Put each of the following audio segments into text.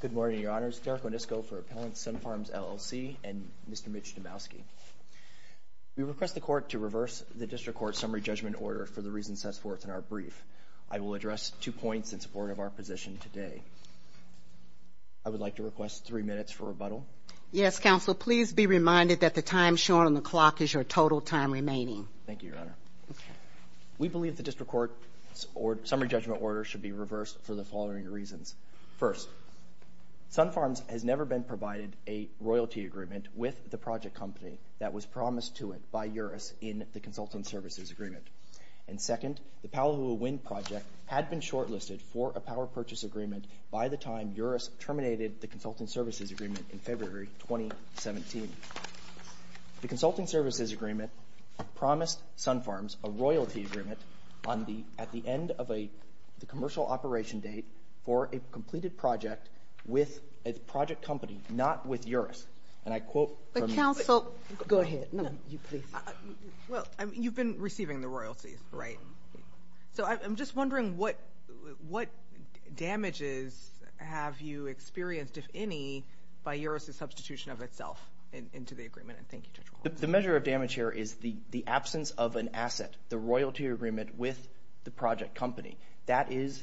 Good morning, Your Honors. Derek Wendisco for Appellants, Sunfarms, LLC and Mr. Mitch Domowski. We request the Court to reverse the District Court's summary judgment order for the reasons set forth in our brief. I will address two points in support of our position today. I would like to request three minutes for rebuttal. Yes, Counselor. Please be reminded that the time shown on the clock is your total time remaining. Thank you, Your Honor. We believe the District Court's summary judgment order should be reversed for the following reasons. First, Sunfarms has never been provided a royalty agreement with the project company that was promised to it by Eurus in the consultant services agreement. And second, the Palaua Wind project had been shortlisted for a power purchase agreement by the time Eurus terminated the consultant services agreement in February 2017. The consulting services agreement promised Sunfarms a royalty agreement at the end of the commercial operation date for a completed project with a project company, not with Eurus. And I quote from the… But, Counsel… Go ahead. No, you, please. Well, you've been receiving the royalties, right? So I'm just wondering what damages have you experienced, if any, by Eurus' substitution of itself into the agreement. And thank you, Judge Wall. The measure of damage here is the absence of an asset, the royalty agreement with the project company. That is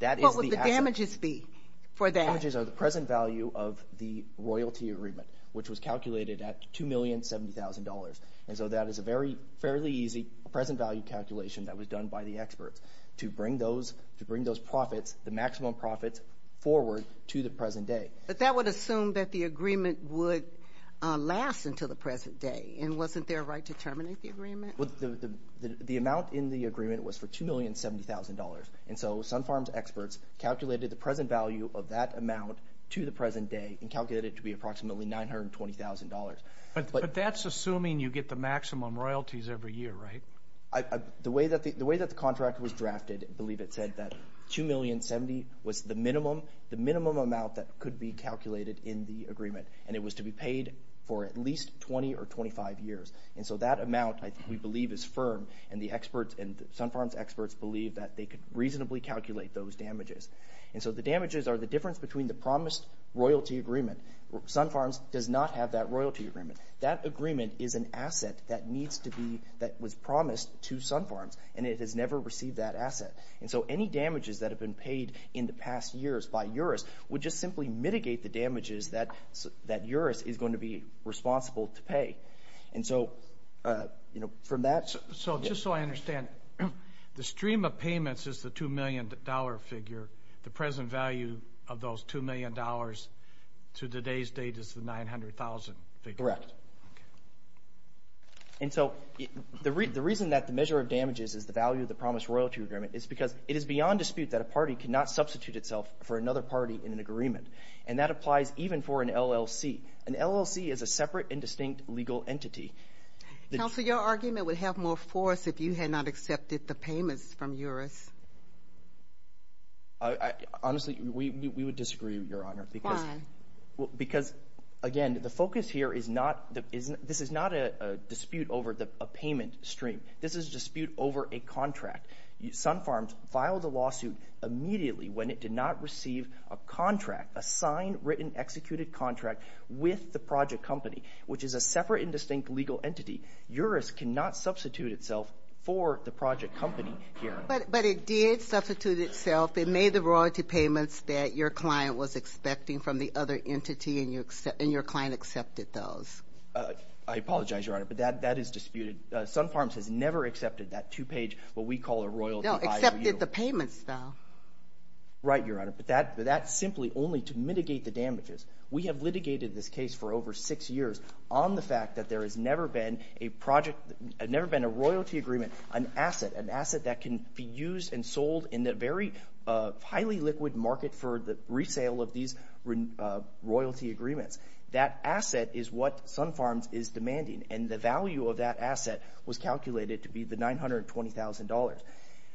the asset. What would the damages be for that? The damages are the present value of the royalty agreement, which was calculated at $2,070,000. And so that is a fairly easy present value calculation that was done by the experts to bring those profits, the maximum profits, forward to the present day. But that would assume that the agreement would last until the present day. And wasn't there a right to terminate the agreement? The amount in the agreement was for $2,070,000. And so Sunfarms experts calculated the present value of that amount to the present day and calculated it to be approximately $920,000. But that's assuming you get the maximum royalties every year, right? The way that the contract was drafted, I believe it said that $2,070,000 was the minimum amount that could be calculated in the agreement, and it was to be paid for at least 20 or 25 years. And so that amount, I believe, is firm, and the experts and Sunfarms experts believe that they could reasonably calculate those damages. And so the damages are the difference between the promised royalty agreement. Sunfarms does not have that royalty agreement. That agreement is an asset that was promised to Sunfarms, and it has never received that asset. And so any damages that have been paid in the past years by EURES would just simply mitigate the damages that EURES is going to be responsible to pay. And so from that— So just so I understand, the stream of payments is the $2 million figure. The present value of those $2 million to today's date is the $900,000 figure. Correct. And so the reason that the measure of damages is the value of the promised royalty agreement is because it is beyond dispute that a party cannot substitute itself for another party in an agreement, and that applies even for an LLC. An LLC is a separate and distinct legal entity. Counsel, your argument would have more force if you had not accepted the payments from EURES. Honestly, we would disagree, Your Honor. Why? Because, again, the focus here is not—this is not a dispute over a payment stream. This is a dispute over a contract. Sunfarms filed a lawsuit immediately when it did not receive a contract, a signed, written, executed contract with the project company, which is a separate and distinct legal entity. EURES cannot substitute itself for the project company here. But it did substitute itself. It made the royalty payments that your client was expecting from the other entity, and your client accepted those. I apologize, Your Honor, but that is disputed. Sunfarms has never accepted that two-page, what we call a royalty— No, accepted the payments, though. Right, Your Honor, but that's simply only to mitigate the damages. We have litigated this case for over six years on the fact that there has never been a project— in the very highly liquid market for the resale of these royalty agreements. That asset is what Sunfarms is demanding, and the value of that asset was calculated to be the $920,000.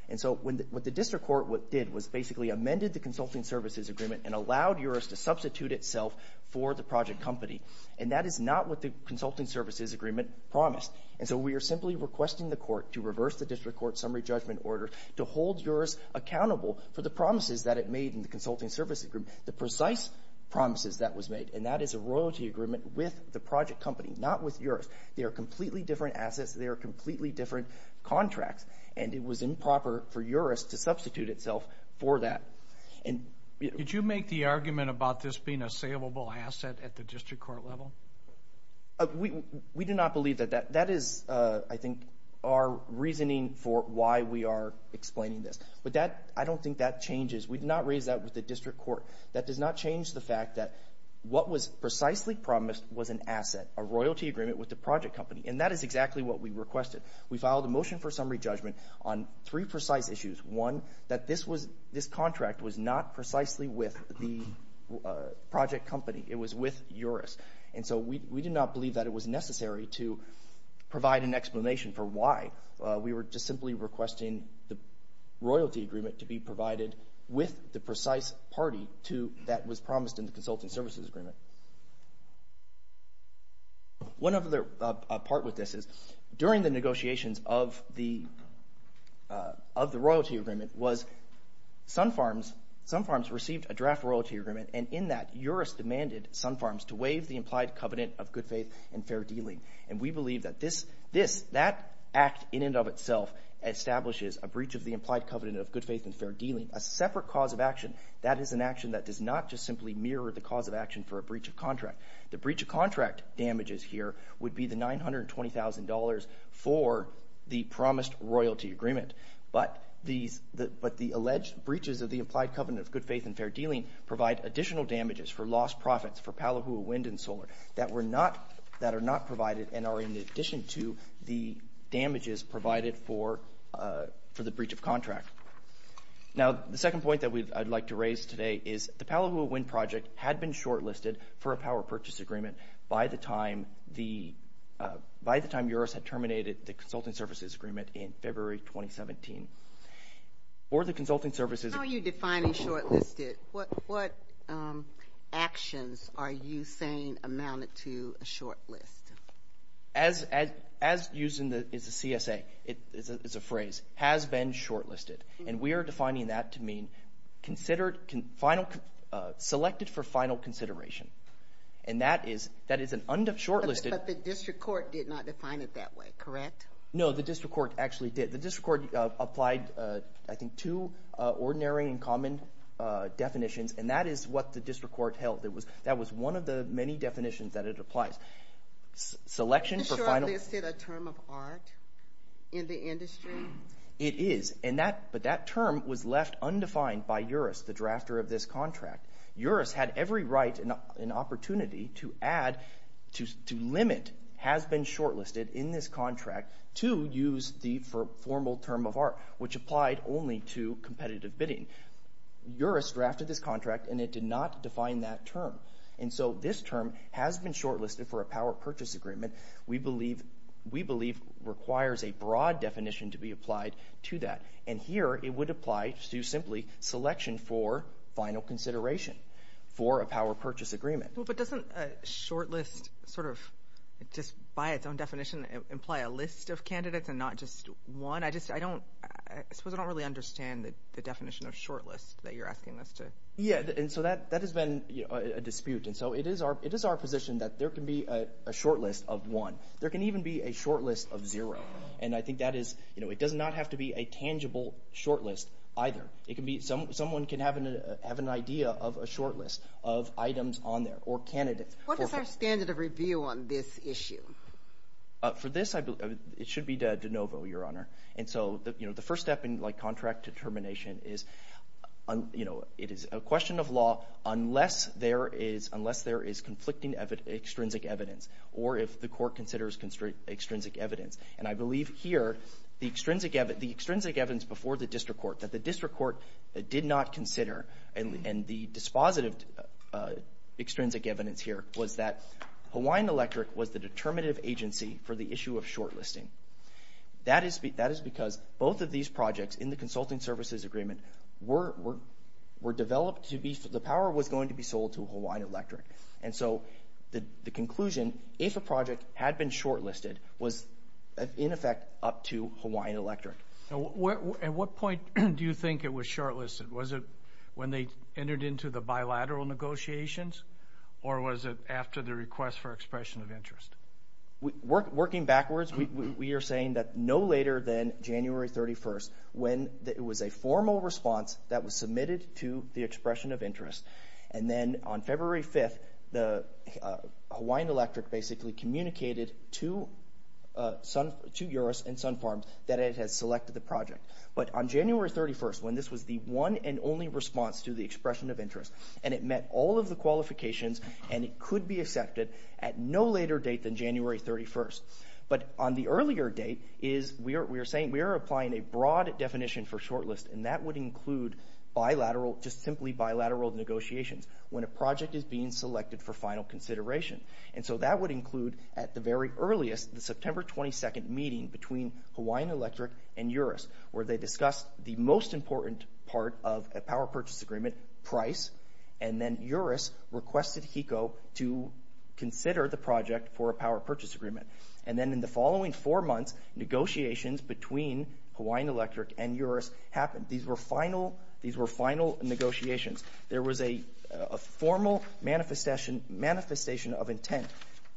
And so what the district court did was basically amended the consulting services agreement and allowed EURES to substitute itself for the project company. And that is not what the consulting services agreement promised. And so we are simply requesting the court to reverse the district court summary judgment order to hold EURES accountable for the promises that it made in the consulting services agreement, the precise promises that was made. And that is a royalty agreement with the project company, not with EURES. They are completely different assets. They are completely different contracts. And it was improper for EURES to substitute itself for that. Did you make the argument about this being a saleable asset at the district court level? We do not believe that. That is, I think, our reasoning for why we are explaining this. But I don't think that changes. We did not raise that with the district court. That does not change the fact that what was precisely promised was an asset, a royalty agreement with the project company. And that is exactly what we requested. We filed a motion for summary judgment on three precise issues. One, that this contract was not precisely with the project company. It was with EURES. And so we did not believe that it was necessary to provide an explanation for why. We were just simply requesting the royalty agreement to be provided with the precise party that was promised in the consultant services agreement. One other part with this is during the negotiations of the royalty agreement was Sun Farms received a draft royalty agreement, and in that EURES demanded Sun Farms to waive the implied covenant of good faith and fair dealing. And we believe that that act in and of itself establishes a breach of the implied covenant of good faith and fair dealing, a separate cause of action. That is an action that does not just simply mirror the cause of action for a breach of contract. The breach of contract damages here would be the $920,000 for the promised royalty agreement. But the alleged breaches of the implied covenant of good faith and fair dealing provide additional damages for lost profits for Palohuawind and solar that are not provided and are in addition to the damages provided for the breach of contract. Now, the second point that I'd like to raise today is the Palohuawind project had been shortlisted for a power purchase agreement by the time EURES had terminated the consulting services agreement in February 2017. For the consulting services How are you defining shortlisted? What actions are you saying amounted to a shortlist? As used in the CSA, it's a phrase, has been shortlisted. And we are defining that to mean selected for final consideration. And that is an undefined shortlisted But the district court did not define it that way, correct? No, the district court actually did. The district court applied, I think, two ordinary and common definitions. And that is what the district court held. That was one of the many definitions that it applies. Selection for final Is the shortlisted a term of art in the industry? It is. But that term was left undefined by EURES, the drafter of this contract. EURES had every right and opportunity to add, to limit, has been shortlisted in this contract to use the formal term of art, which applied only to competitive bidding. EURES drafted this contract and it did not define that term. And so this term has been shortlisted for a power purchase agreement. We believe requires a broad definition to be applied to that. And here it would apply to simply selection for final consideration for a power purchase agreement. But doesn't a shortlist sort of just by its own definition imply a list of candidates and not just one? I suppose I don't really understand the definition of shortlist that you're asking us to. Yeah, and so that has been a dispute. And so it is our position that there can be a shortlist of one. There can even be a shortlist of zero. And I think that is, you know, it does not have to be a tangible shortlist either. Someone can have an idea of a shortlist of items on there or candidates. What is our standard of review on this issue? For this, it should be de novo, Your Honor. And so, you know, the first step in, like, contract determination is, you know, it is a question of law unless there is conflicting extrinsic evidence or if the court considers extrinsic evidence. And I believe here the extrinsic evidence before the district court that the district court did not consider and the dispositive extrinsic evidence here was that Hawaiian Electric was the determinative agency for the issue of shortlisting. That is because both of these projects in the consulting services agreement were developed to be for the power was going to be sold to Hawaiian Electric. And so the conclusion, if a project had been shortlisted, was in effect up to Hawaiian Electric. At what point do you think it was shortlisted? Was it when they entered into the bilateral negotiations or was it after the request for expression of interest? Working backwards, we are saying that no later than January 31st when it was a formal response that was submitted to the expression of interest. And then on February 5th, Hawaiian Electric basically communicated to Eurus and Sun Farms that it has selected the project. But on January 31st, when this was the one and only response to the expression of interest, and it met all of the qualifications and it could be accepted at no later date than January 31st. But on the earlier date, we are applying a broad definition for shortlist, and that would include just simply bilateral negotiations. When a project is being selected for final consideration. And so that would include at the very earliest, the September 22nd meeting between Hawaiian Electric and Eurus, where they discussed the most important part of a power purchase agreement, price. And then Eurus requested HECO to consider the project for a power purchase agreement. And then in the following four months, negotiations between Hawaiian Electric and Eurus happened. These were final negotiations. There was a formal manifestation of intent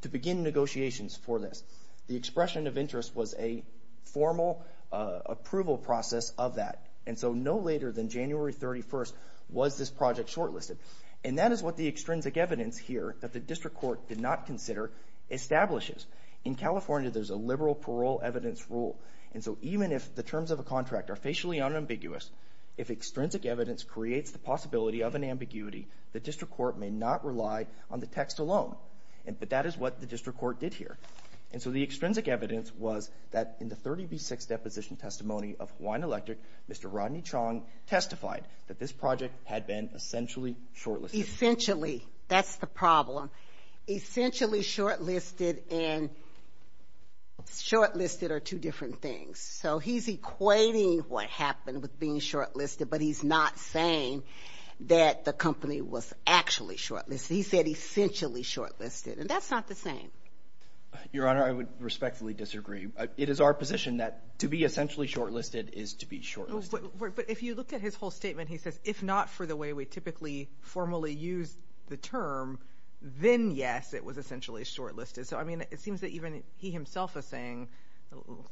to begin negotiations for this. The expression of interest was a formal approval process of that. And so no later than January 31st was this project shortlisted. And that is what the extrinsic evidence here that the district court did not consider establishes. In California, there's a liberal parole evidence rule. And so even if the terms of a contract are facially unambiguous, if extrinsic evidence creates the possibility of an ambiguity, the district court may not rely on the text alone. But that is what the district court did here. And so the extrinsic evidence was that in the 30B6 deposition testimony of Hawaiian Electric, Mr. Rodney Chong testified that this project had been essentially shortlisted. Essentially. That's the problem. Essentially shortlisted and shortlisted are two different things. So he's equating what happened with being shortlisted, but he's not saying that the company was actually shortlisted. He said essentially shortlisted. And that's not the same. Your Honor, I would respectfully disagree. It is our position that to be essentially shortlisted is to be shortlisted. But if you look at his whole statement, he says, if not for the way we typically formally use the term, then, yes, it was essentially shortlisted. So, I mean, it seems that even he himself is saying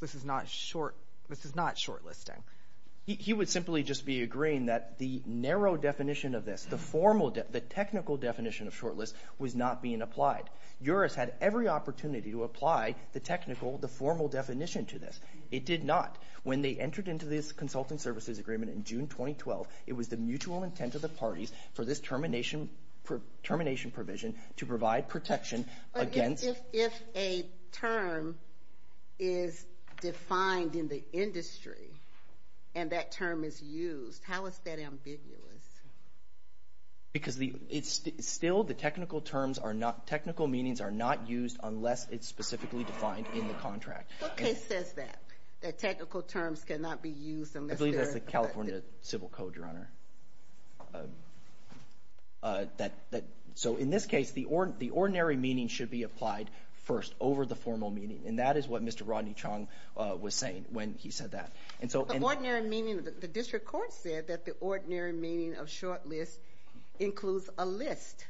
this is not shortlisting. He would simply just be agreeing that the narrow definition of this, the technical definition of shortlist was not being applied. Juris had every opportunity to apply the technical, the formal definition to this. It did not. When they entered into this consultant services agreement in June 2012, it was the mutual intent of the parties for this termination provision to provide protection against. If a term is defined in the industry and that term is used, how is that ambiguous? Because still the technical terms are not, technical meanings are not used unless it's specifically defined in the contract. What case says that, that technical terms cannot be used unless they're. I believe that's the California Civil Code, Your Honor. So, in this case, the ordinary meaning should be applied first over the formal meaning. And that is what Mr. Rodney Chong was saying when he said that. The ordinary meaning, the district court said that the ordinary meaning of shortlist includes a list.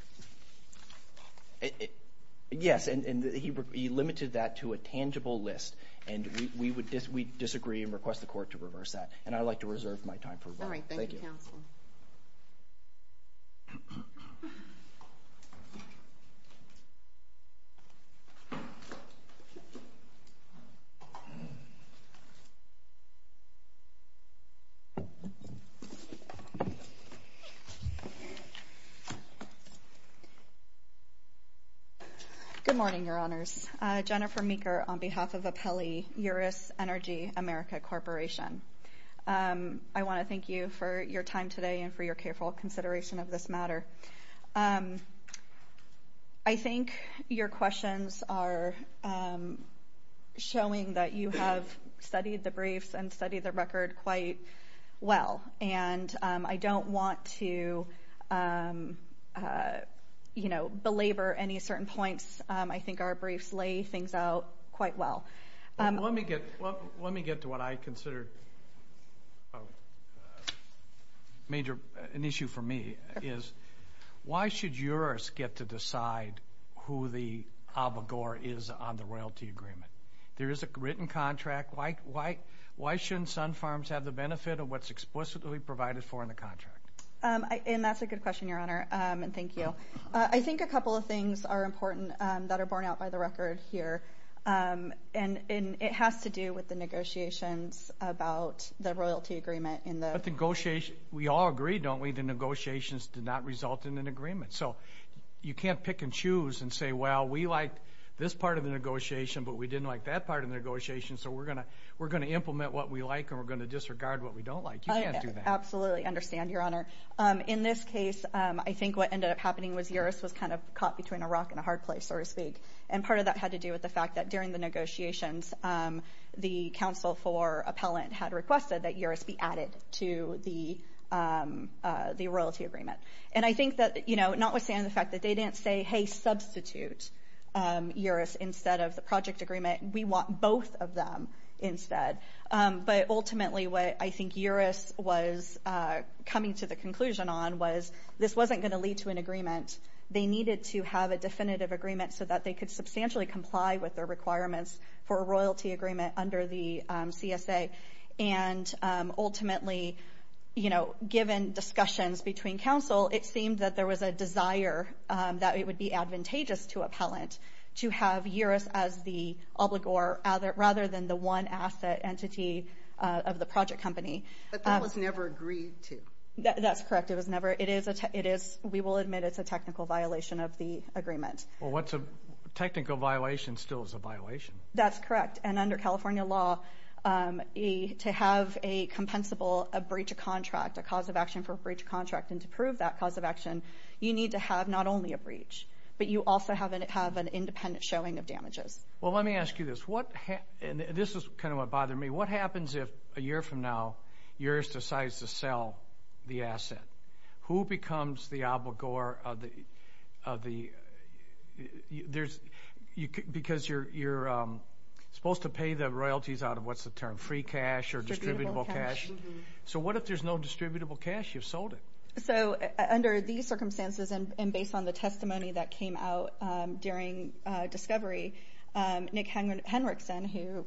Yes. And he limited that to a tangible list. And we disagree and request the court to reverse that. And I'd like to reserve my time for. All right. Thank you. Good morning, Your Honors. Jennifer Meeker on behalf of Apelli, Uris Energy America Corporation. I want to thank you for your time today and for your careful consideration of this matter. I think your questions are showing that you have studied the briefs and studied the record quite well. And I don't want to, you know, belabor any certain points. I think our briefs lay things out quite well. Let me get to what I consider a major issue for me. Why should Uris get to decide who the abogor is on the royalty agreement? There is a written contract. Why shouldn't Sun Farms have the benefit of what's explicitly provided for in the contract? And that's a good question, Your Honor. And thank you. I think a couple of things are important that are borne out by the record here. And it has to do with the negotiations about the royalty agreement. But the negotiations, we all agree, don't we, the negotiations did not result in an agreement. So you can't pick and choose and say, well, we like this part of the negotiation, but we didn't like that part of the negotiation, so we're going to implement what we like and we're going to disregard what we don't like. You can't do that. I absolutely understand, Your Honor. In this case, I think what ended up happening was Uris was kind of caught between a rock and a hard place, so to speak. And part of that had to do with the fact that during the negotiations, the counsel for appellant had requested that Uris be added to the royalty agreement. And I think that, you know, notwithstanding the fact that they didn't say, hey, substitute Uris instead of the project agreement. We want both of them instead. But ultimately what I think Uris was coming to the conclusion on was this wasn't going to lead to an agreement. They needed to have a definitive agreement so that they could substantially comply with their requirements for a royalty agreement under the CSA. And ultimately, you know, given discussions between counsel, it seemed that there was a desire that it would be advantageous to appellant to have Uris as the obligor rather than the one asset entity of the project company. But that was never agreed to. That's correct. It was never. We will admit it's a technical violation of the agreement. Well, what's a technical violation still is a violation. That's correct. And under California law, to have a compensable breach of contract, a cause of action for a breach of contract, and to prove that cause of action, you need to have not only a breach, but you also have an independent showing of damages. Well, let me ask you this. This is kind of what bothered me. What happens if a year from now Uris decides to sell the asset? Who becomes the obligor of the – because you're supposed to pay the royalties out of what's the term, free cash or distributable cash. So what if there's no distributable cash? You've sold it. So under these circumstances and based on the testimony that came out during discovery, Nick Henrickson,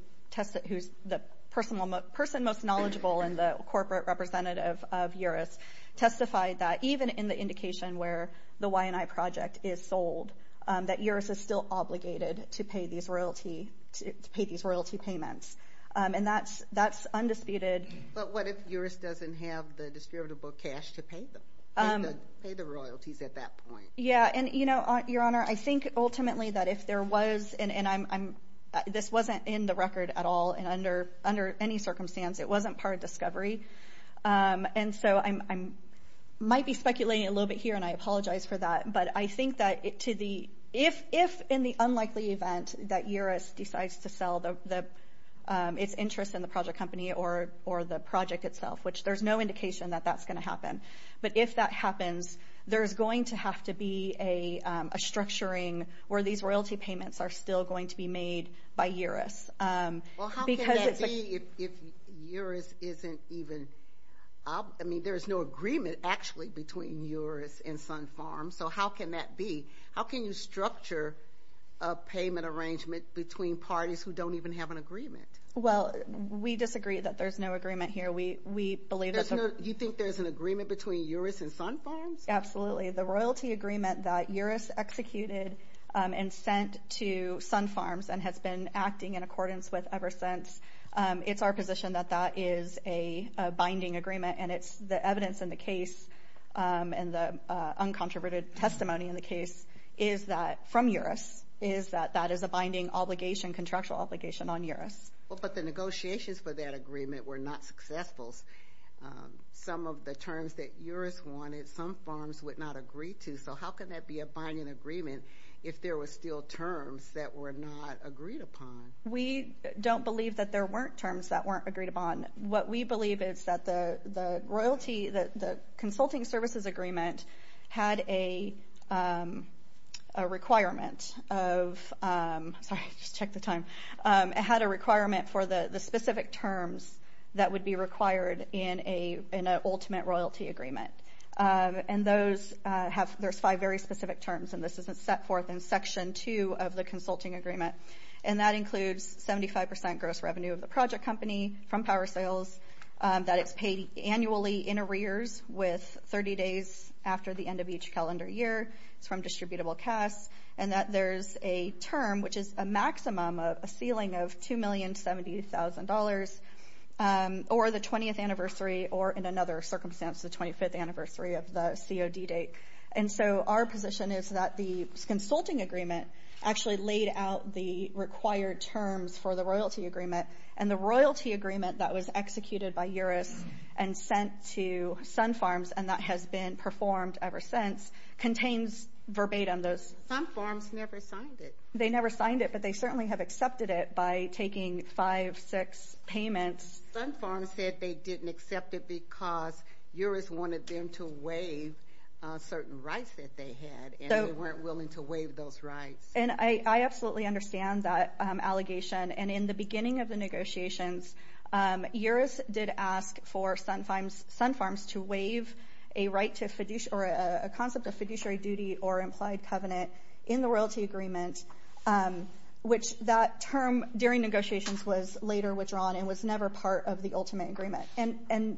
who's the person most knowledgeable and the corporate representative of Uris, testified that even in the indication where the YNI project is sold, that Uris is still obligated to pay these royalty payments. And that's undisputed. But what if Uris doesn't have the distributable cash to pay them, pay the royalties at that point? Yeah. And, you know, Your Honor, I think ultimately that if there was – and this wasn't in the record at all and under any circumstance. It wasn't part of discovery. And so I might be speculating a little bit here, and I apologize for that. But I think that if in the unlikely event that Uris decides to sell its interest in the project company or the project itself, which there's no indication that that's going to happen, but if that happens, there's going to have to be a structuring where these royalty payments are still going to be made by Uris. Well, how can that be if Uris isn't even – I mean, there's no agreement actually between Uris and Sun Farms. So how can that be? How can you structure a payment arrangement between parties who don't even have an agreement? Well, we disagree that there's no agreement here. You think there's an agreement between Uris and Sun Farms? Absolutely. The royalty agreement that Uris executed and sent to Sun Farms and has been acting in accordance with ever since, it's our position that that is a binding agreement. And the evidence in the case and the uncontroverted testimony in the case from Uris is that that is a binding obligation, contractual obligation on Uris. But the negotiations for that agreement were not successful. Some of the terms that Uris wanted, Sun Farms would not agree to. So how can that be a binding agreement if there were still terms that were not agreed upon? We don't believe that there weren't terms that weren't agreed upon. What we believe is that the consulting services agreement had a requirement of – sorry, I just checked the time. It had a requirement for the specific terms that would be required in an ultimate royalty agreement. And those have – there's five very specific terms, and this is set forth in Section 2 of the consulting agreement. And that includes 75% gross revenue of the project company from power sales, that it's paid annually in arrears with 30 days after the end of each calendar year. It's from distributable casts. And that there's a term which is a maximum of a ceiling of $2,070,000 or the 20th anniversary or, in another circumstance, the 25th anniversary of the COD date. And so our position is that the consulting agreement actually laid out the required terms for the royalty agreement. And the royalty agreement that was executed by Uris and sent to Sun Farms and that has been performed ever since contains verbatim those. Sun Farms never signed it. They never signed it, but they certainly have accepted it by taking five, six payments. Sun Farms said they didn't accept it because Uris wanted them to waive certain rights that they had, and they weren't willing to waive those rights. And I absolutely understand that allegation. And in the beginning of the negotiations, Uris did ask for Sun Farms to waive a concept of fiduciary duty or implied covenant in the royalty agreement, which that term during negotiations was later withdrawn and was never part of the ultimate agreement. And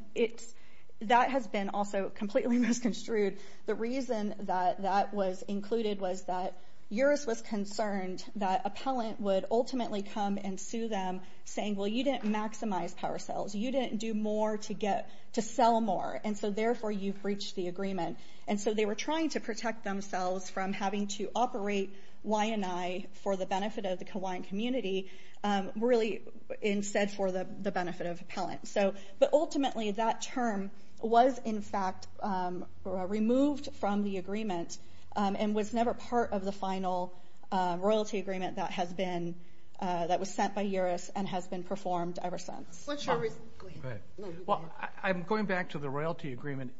that has been also completely misconstrued. The reason that that was included was that Uris was concerned that you didn't maximize power sales, you didn't do more to sell more, and so therefore you breached the agreement. And so they were trying to protect themselves from having to operate Wai'anae for the benefit of the Kauai community really instead for the benefit of appellants. But ultimately that term was in fact removed from the agreement and was never part of the final royalty agreement that was sent by Uris and has been performed ever since. I'm going back to the royalty agreement.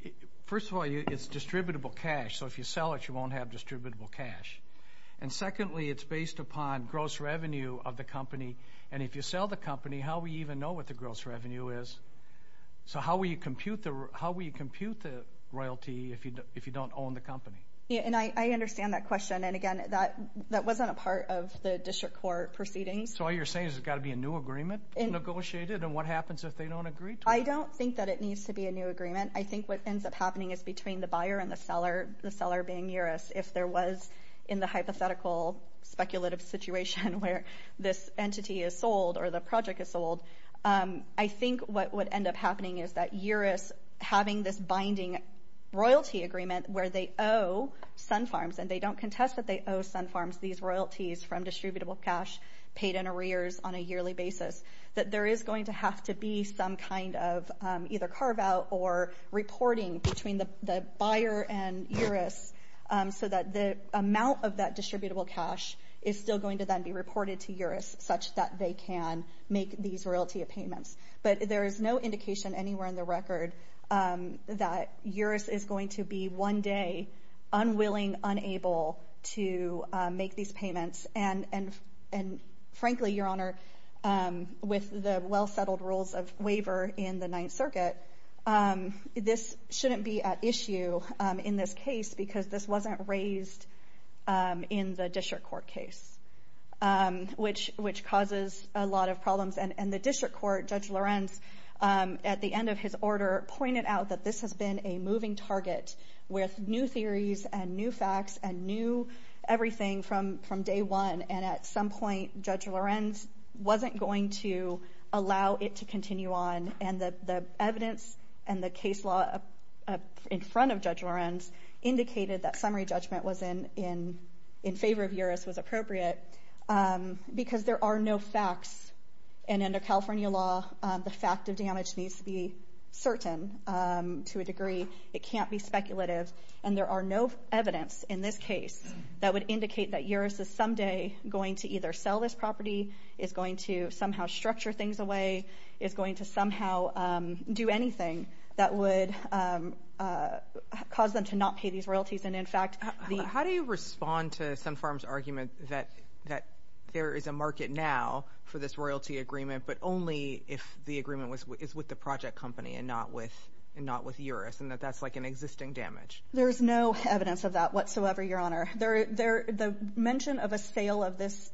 First of all, it's distributable cash. So if you sell it, you won't have distributable cash. And secondly, it's based upon gross revenue of the company. And if you sell the company, how will you even know what the gross revenue is? So how will you compute the royalty if you don't own the company? I understand that question. And again, that wasn't a part of the district court proceedings. So all you're saying is there's got to be a new agreement negotiated, and what happens if they don't agree to it? I don't think that it needs to be a new agreement. I think what ends up happening is between the buyer and the seller, the seller being Uris, if there was in the hypothetical speculative situation where this entity is sold or the project is sold, I think what would end up happening is that Uris, having this binding royalty agreement where they owe Sun Farms, and they don't contest that they owe Sun Farms these royalties from distributable cash paid in arrears on a yearly basis, that there is going to have to be some kind of either carve-out or reporting between the buyer and Uris so that the amount of that distributable cash is still going to then be reported to Uris such that they can make these royalty payments. But there is no indication anywhere in the record that Uris is going to be one day unwilling, unable to make these payments. And frankly, Your Honor, with the well-settled rules of waiver in the Ninth Circuit, this shouldn't be at issue in this case because this wasn't raised in the district court case, which causes a lot of problems. And the district court, Judge Lorenz, at the end of his order, pointed out that this has been a moving target with new theories and new facts and new everything from day one. And at some point, Judge Lorenz wasn't going to allow it to continue on. And the evidence and the case law in front of Judge Lorenz indicated that summary judgment was in favor of Uris was appropriate because there are no facts. And under California law, the fact of damage needs to be certain to a degree. It can't be speculative. And there are no evidence in this case that would indicate that Uris is someday going to either sell this property, is going to somehow structure things away, is going to somehow do anything that would cause them to not pay these royalties. How do you respond to Sunfarm's argument that there is a market now for this royalty agreement, but only if the agreement is with the project company and not with Uris and that that's like an existing damage? There's no evidence of that whatsoever, Your Honor. The mention of a sale of this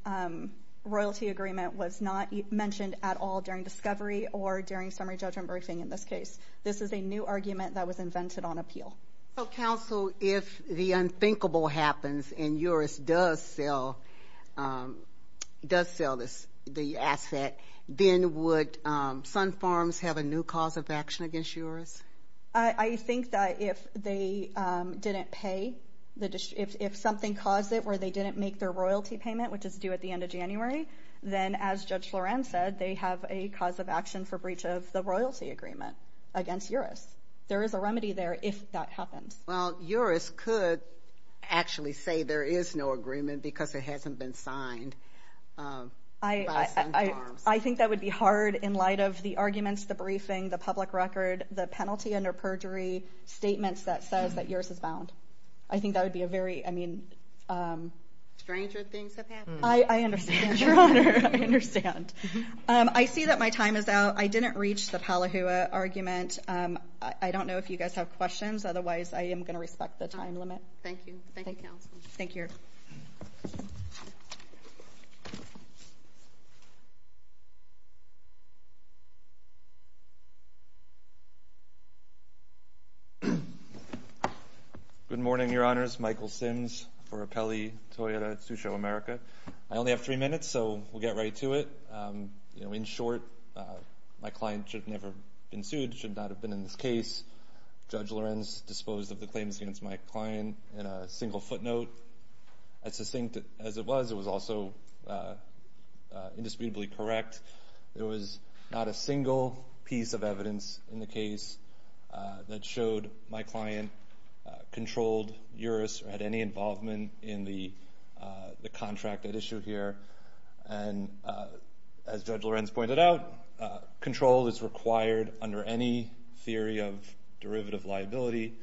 royalty agreement was not mentioned at all during discovery or during summary judgment briefing in this case. This is a new argument that was invented on appeal. So, counsel, if the unthinkable happens and Uris does sell the asset, then would Sunfarms have a new cause of action against Uris? I think that if they didn't pay, if something caused it where they didn't make their royalty payment, which is due at the end of January, then, as Judge Lorenz said, they have a cause of action for breach of the royalty agreement against Uris. There is a remedy there if that happens. Well, Uris could actually say there is no agreement because it hasn't been signed by Sunfarms. I think that would be hard in light of the arguments, the briefing, the public record, the penalty under perjury, statements that says that Uris is bound. I think that would be a very, I mean... Stranger things have happened. I understand, Your Honor. I understand. I see that my time is out. I didn't reach the Palihua argument. I don't know if you guys have questions. Otherwise, I am going to respect the time limit. Thank you. Thank you, counsel. Thank you. Good morning, Your Honors. Michael Sims for Apelli Toyota Susho America. I only have three minutes, so we'll get right to it. In short, my client should have never been sued, should not have been in this case. Judge Lorenz disposed of the claims against my client in a single footnote. As succinct as it was, it was also indisputably correct. There was not a single piece of evidence in the case that showed my client controlled Uris or had any involvement in the contract at issue here. And as Judge Lorenz pointed out, control is required under any theory of derivative liability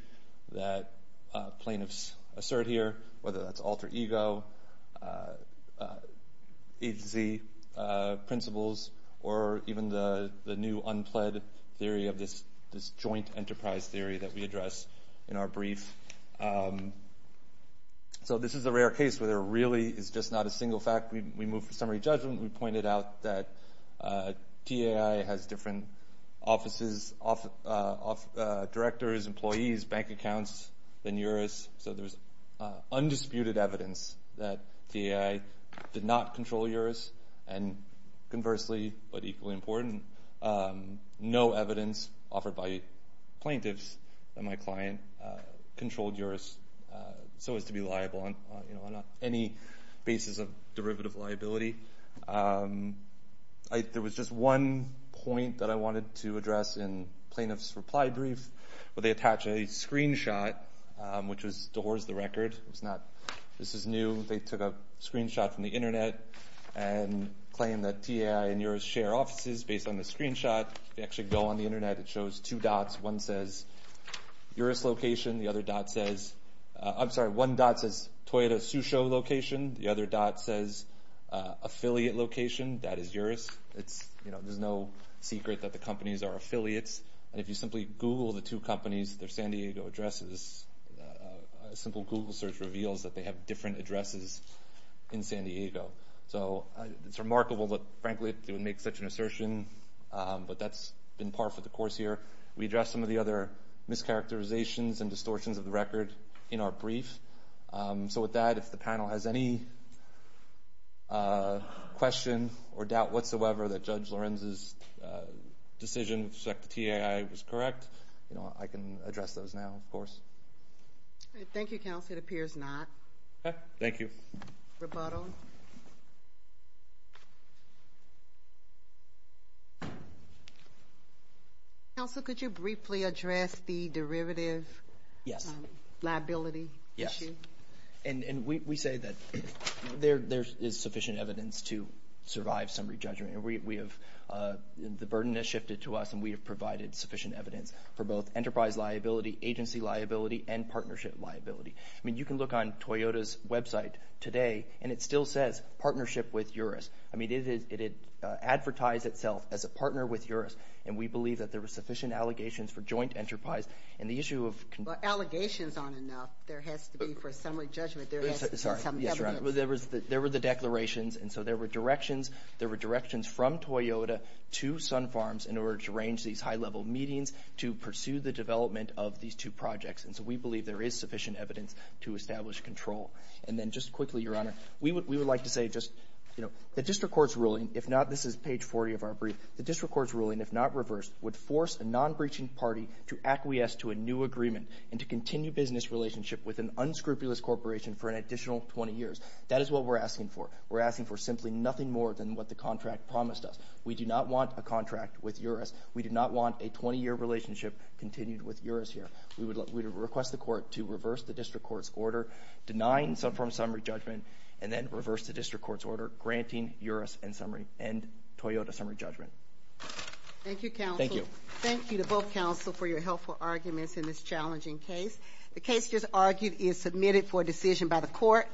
that plaintiffs assert here, whether that's alter ego, agency principles, or even the new unpled theory of this joint enterprise theory that we address in our brief. So this is a rare case where there really is just not a single fact. We move to summary judgment. We pointed out that TAI has different offices, directors, employees, bank accounts than Uris. So there's undisputed evidence that TAI did not control Uris. And conversely, but equally important, no evidence offered by plaintiffs that my client controlled Uris so as to be liable on any basis of derivative liability. There was just one point that I wanted to address in plaintiff's reply brief where they attach a screenshot, which was to horse the record. This is new. They took a screenshot from the Internet and claimed that TAI and Uris share offices based on the screenshot. If you actually go on the Internet, it shows two dots. One dot says Toyota Susho location. The other dot says affiliate location. That is Uris. There's no secret that the companies are affiliates. And if you simply Google the two companies, their San Diego addresses, a simple Google search reveals that they have different addresses in San Diego. So it's remarkable that, frankly, they would make such an assertion. But that's been par for the course here. We addressed some of the other mischaracterizations and distortions of the record in our brief. So with that, if the panel has any question or doubt whatsoever that Judge Lorenz's decision with respect to TAI was correct, I can address those now, of course. Thank you, counsel. It appears not. Thank you. Rebuttal. Counsel, could you briefly address the derivative liability issue? Yes. And we say that there is sufficient evidence to survive some re-judgment. The burden has shifted to us, and we have provided sufficient evidence for both enterprise liability, agency liability, and partnership liability. I mean, you can look on Toyota's website today, and it still says partnership with Uris. I mean, it advertised itself as a partner with Uris, and we believe that there were sufficient allegations for joint enterprise. And the issue of – But allegations aren't enough. There has to be, for summary judgment, there has to be some evidence. Sorry. Yes, Your Honor. There were the declarations, and so there were directions from Toyota to Sun Farms in order to arrange these high-level meetings to pursue the development of these two projects. And so we believe there is sufficient evidence to establish control. And then just quickly, Your Honor, we would like to say just, you know, the district court's ruling, if not – this is page 40 of our brief. The district court's ruling, if not reversed, would force a non-breaching party to acquiesce to a new agreement and to continue business relationship with an unscrupulous corporation for an additional 20 years. That is what we're asking for. We're asking for simply nothing more than what the contract promised us. We do not want a contract with Uris. We do not want a 20-year relationship continued with Uris here. We would request the court to reverse the district court's order denying Sun Farms summary judgment and then reverse the district court's order granting Uris and Toyota summary judgment. Thank you, counsel. Thank you. Thank you to both counsel for your helpful arguments in this challenging case. The case, as argued, is submitted for decision by the court.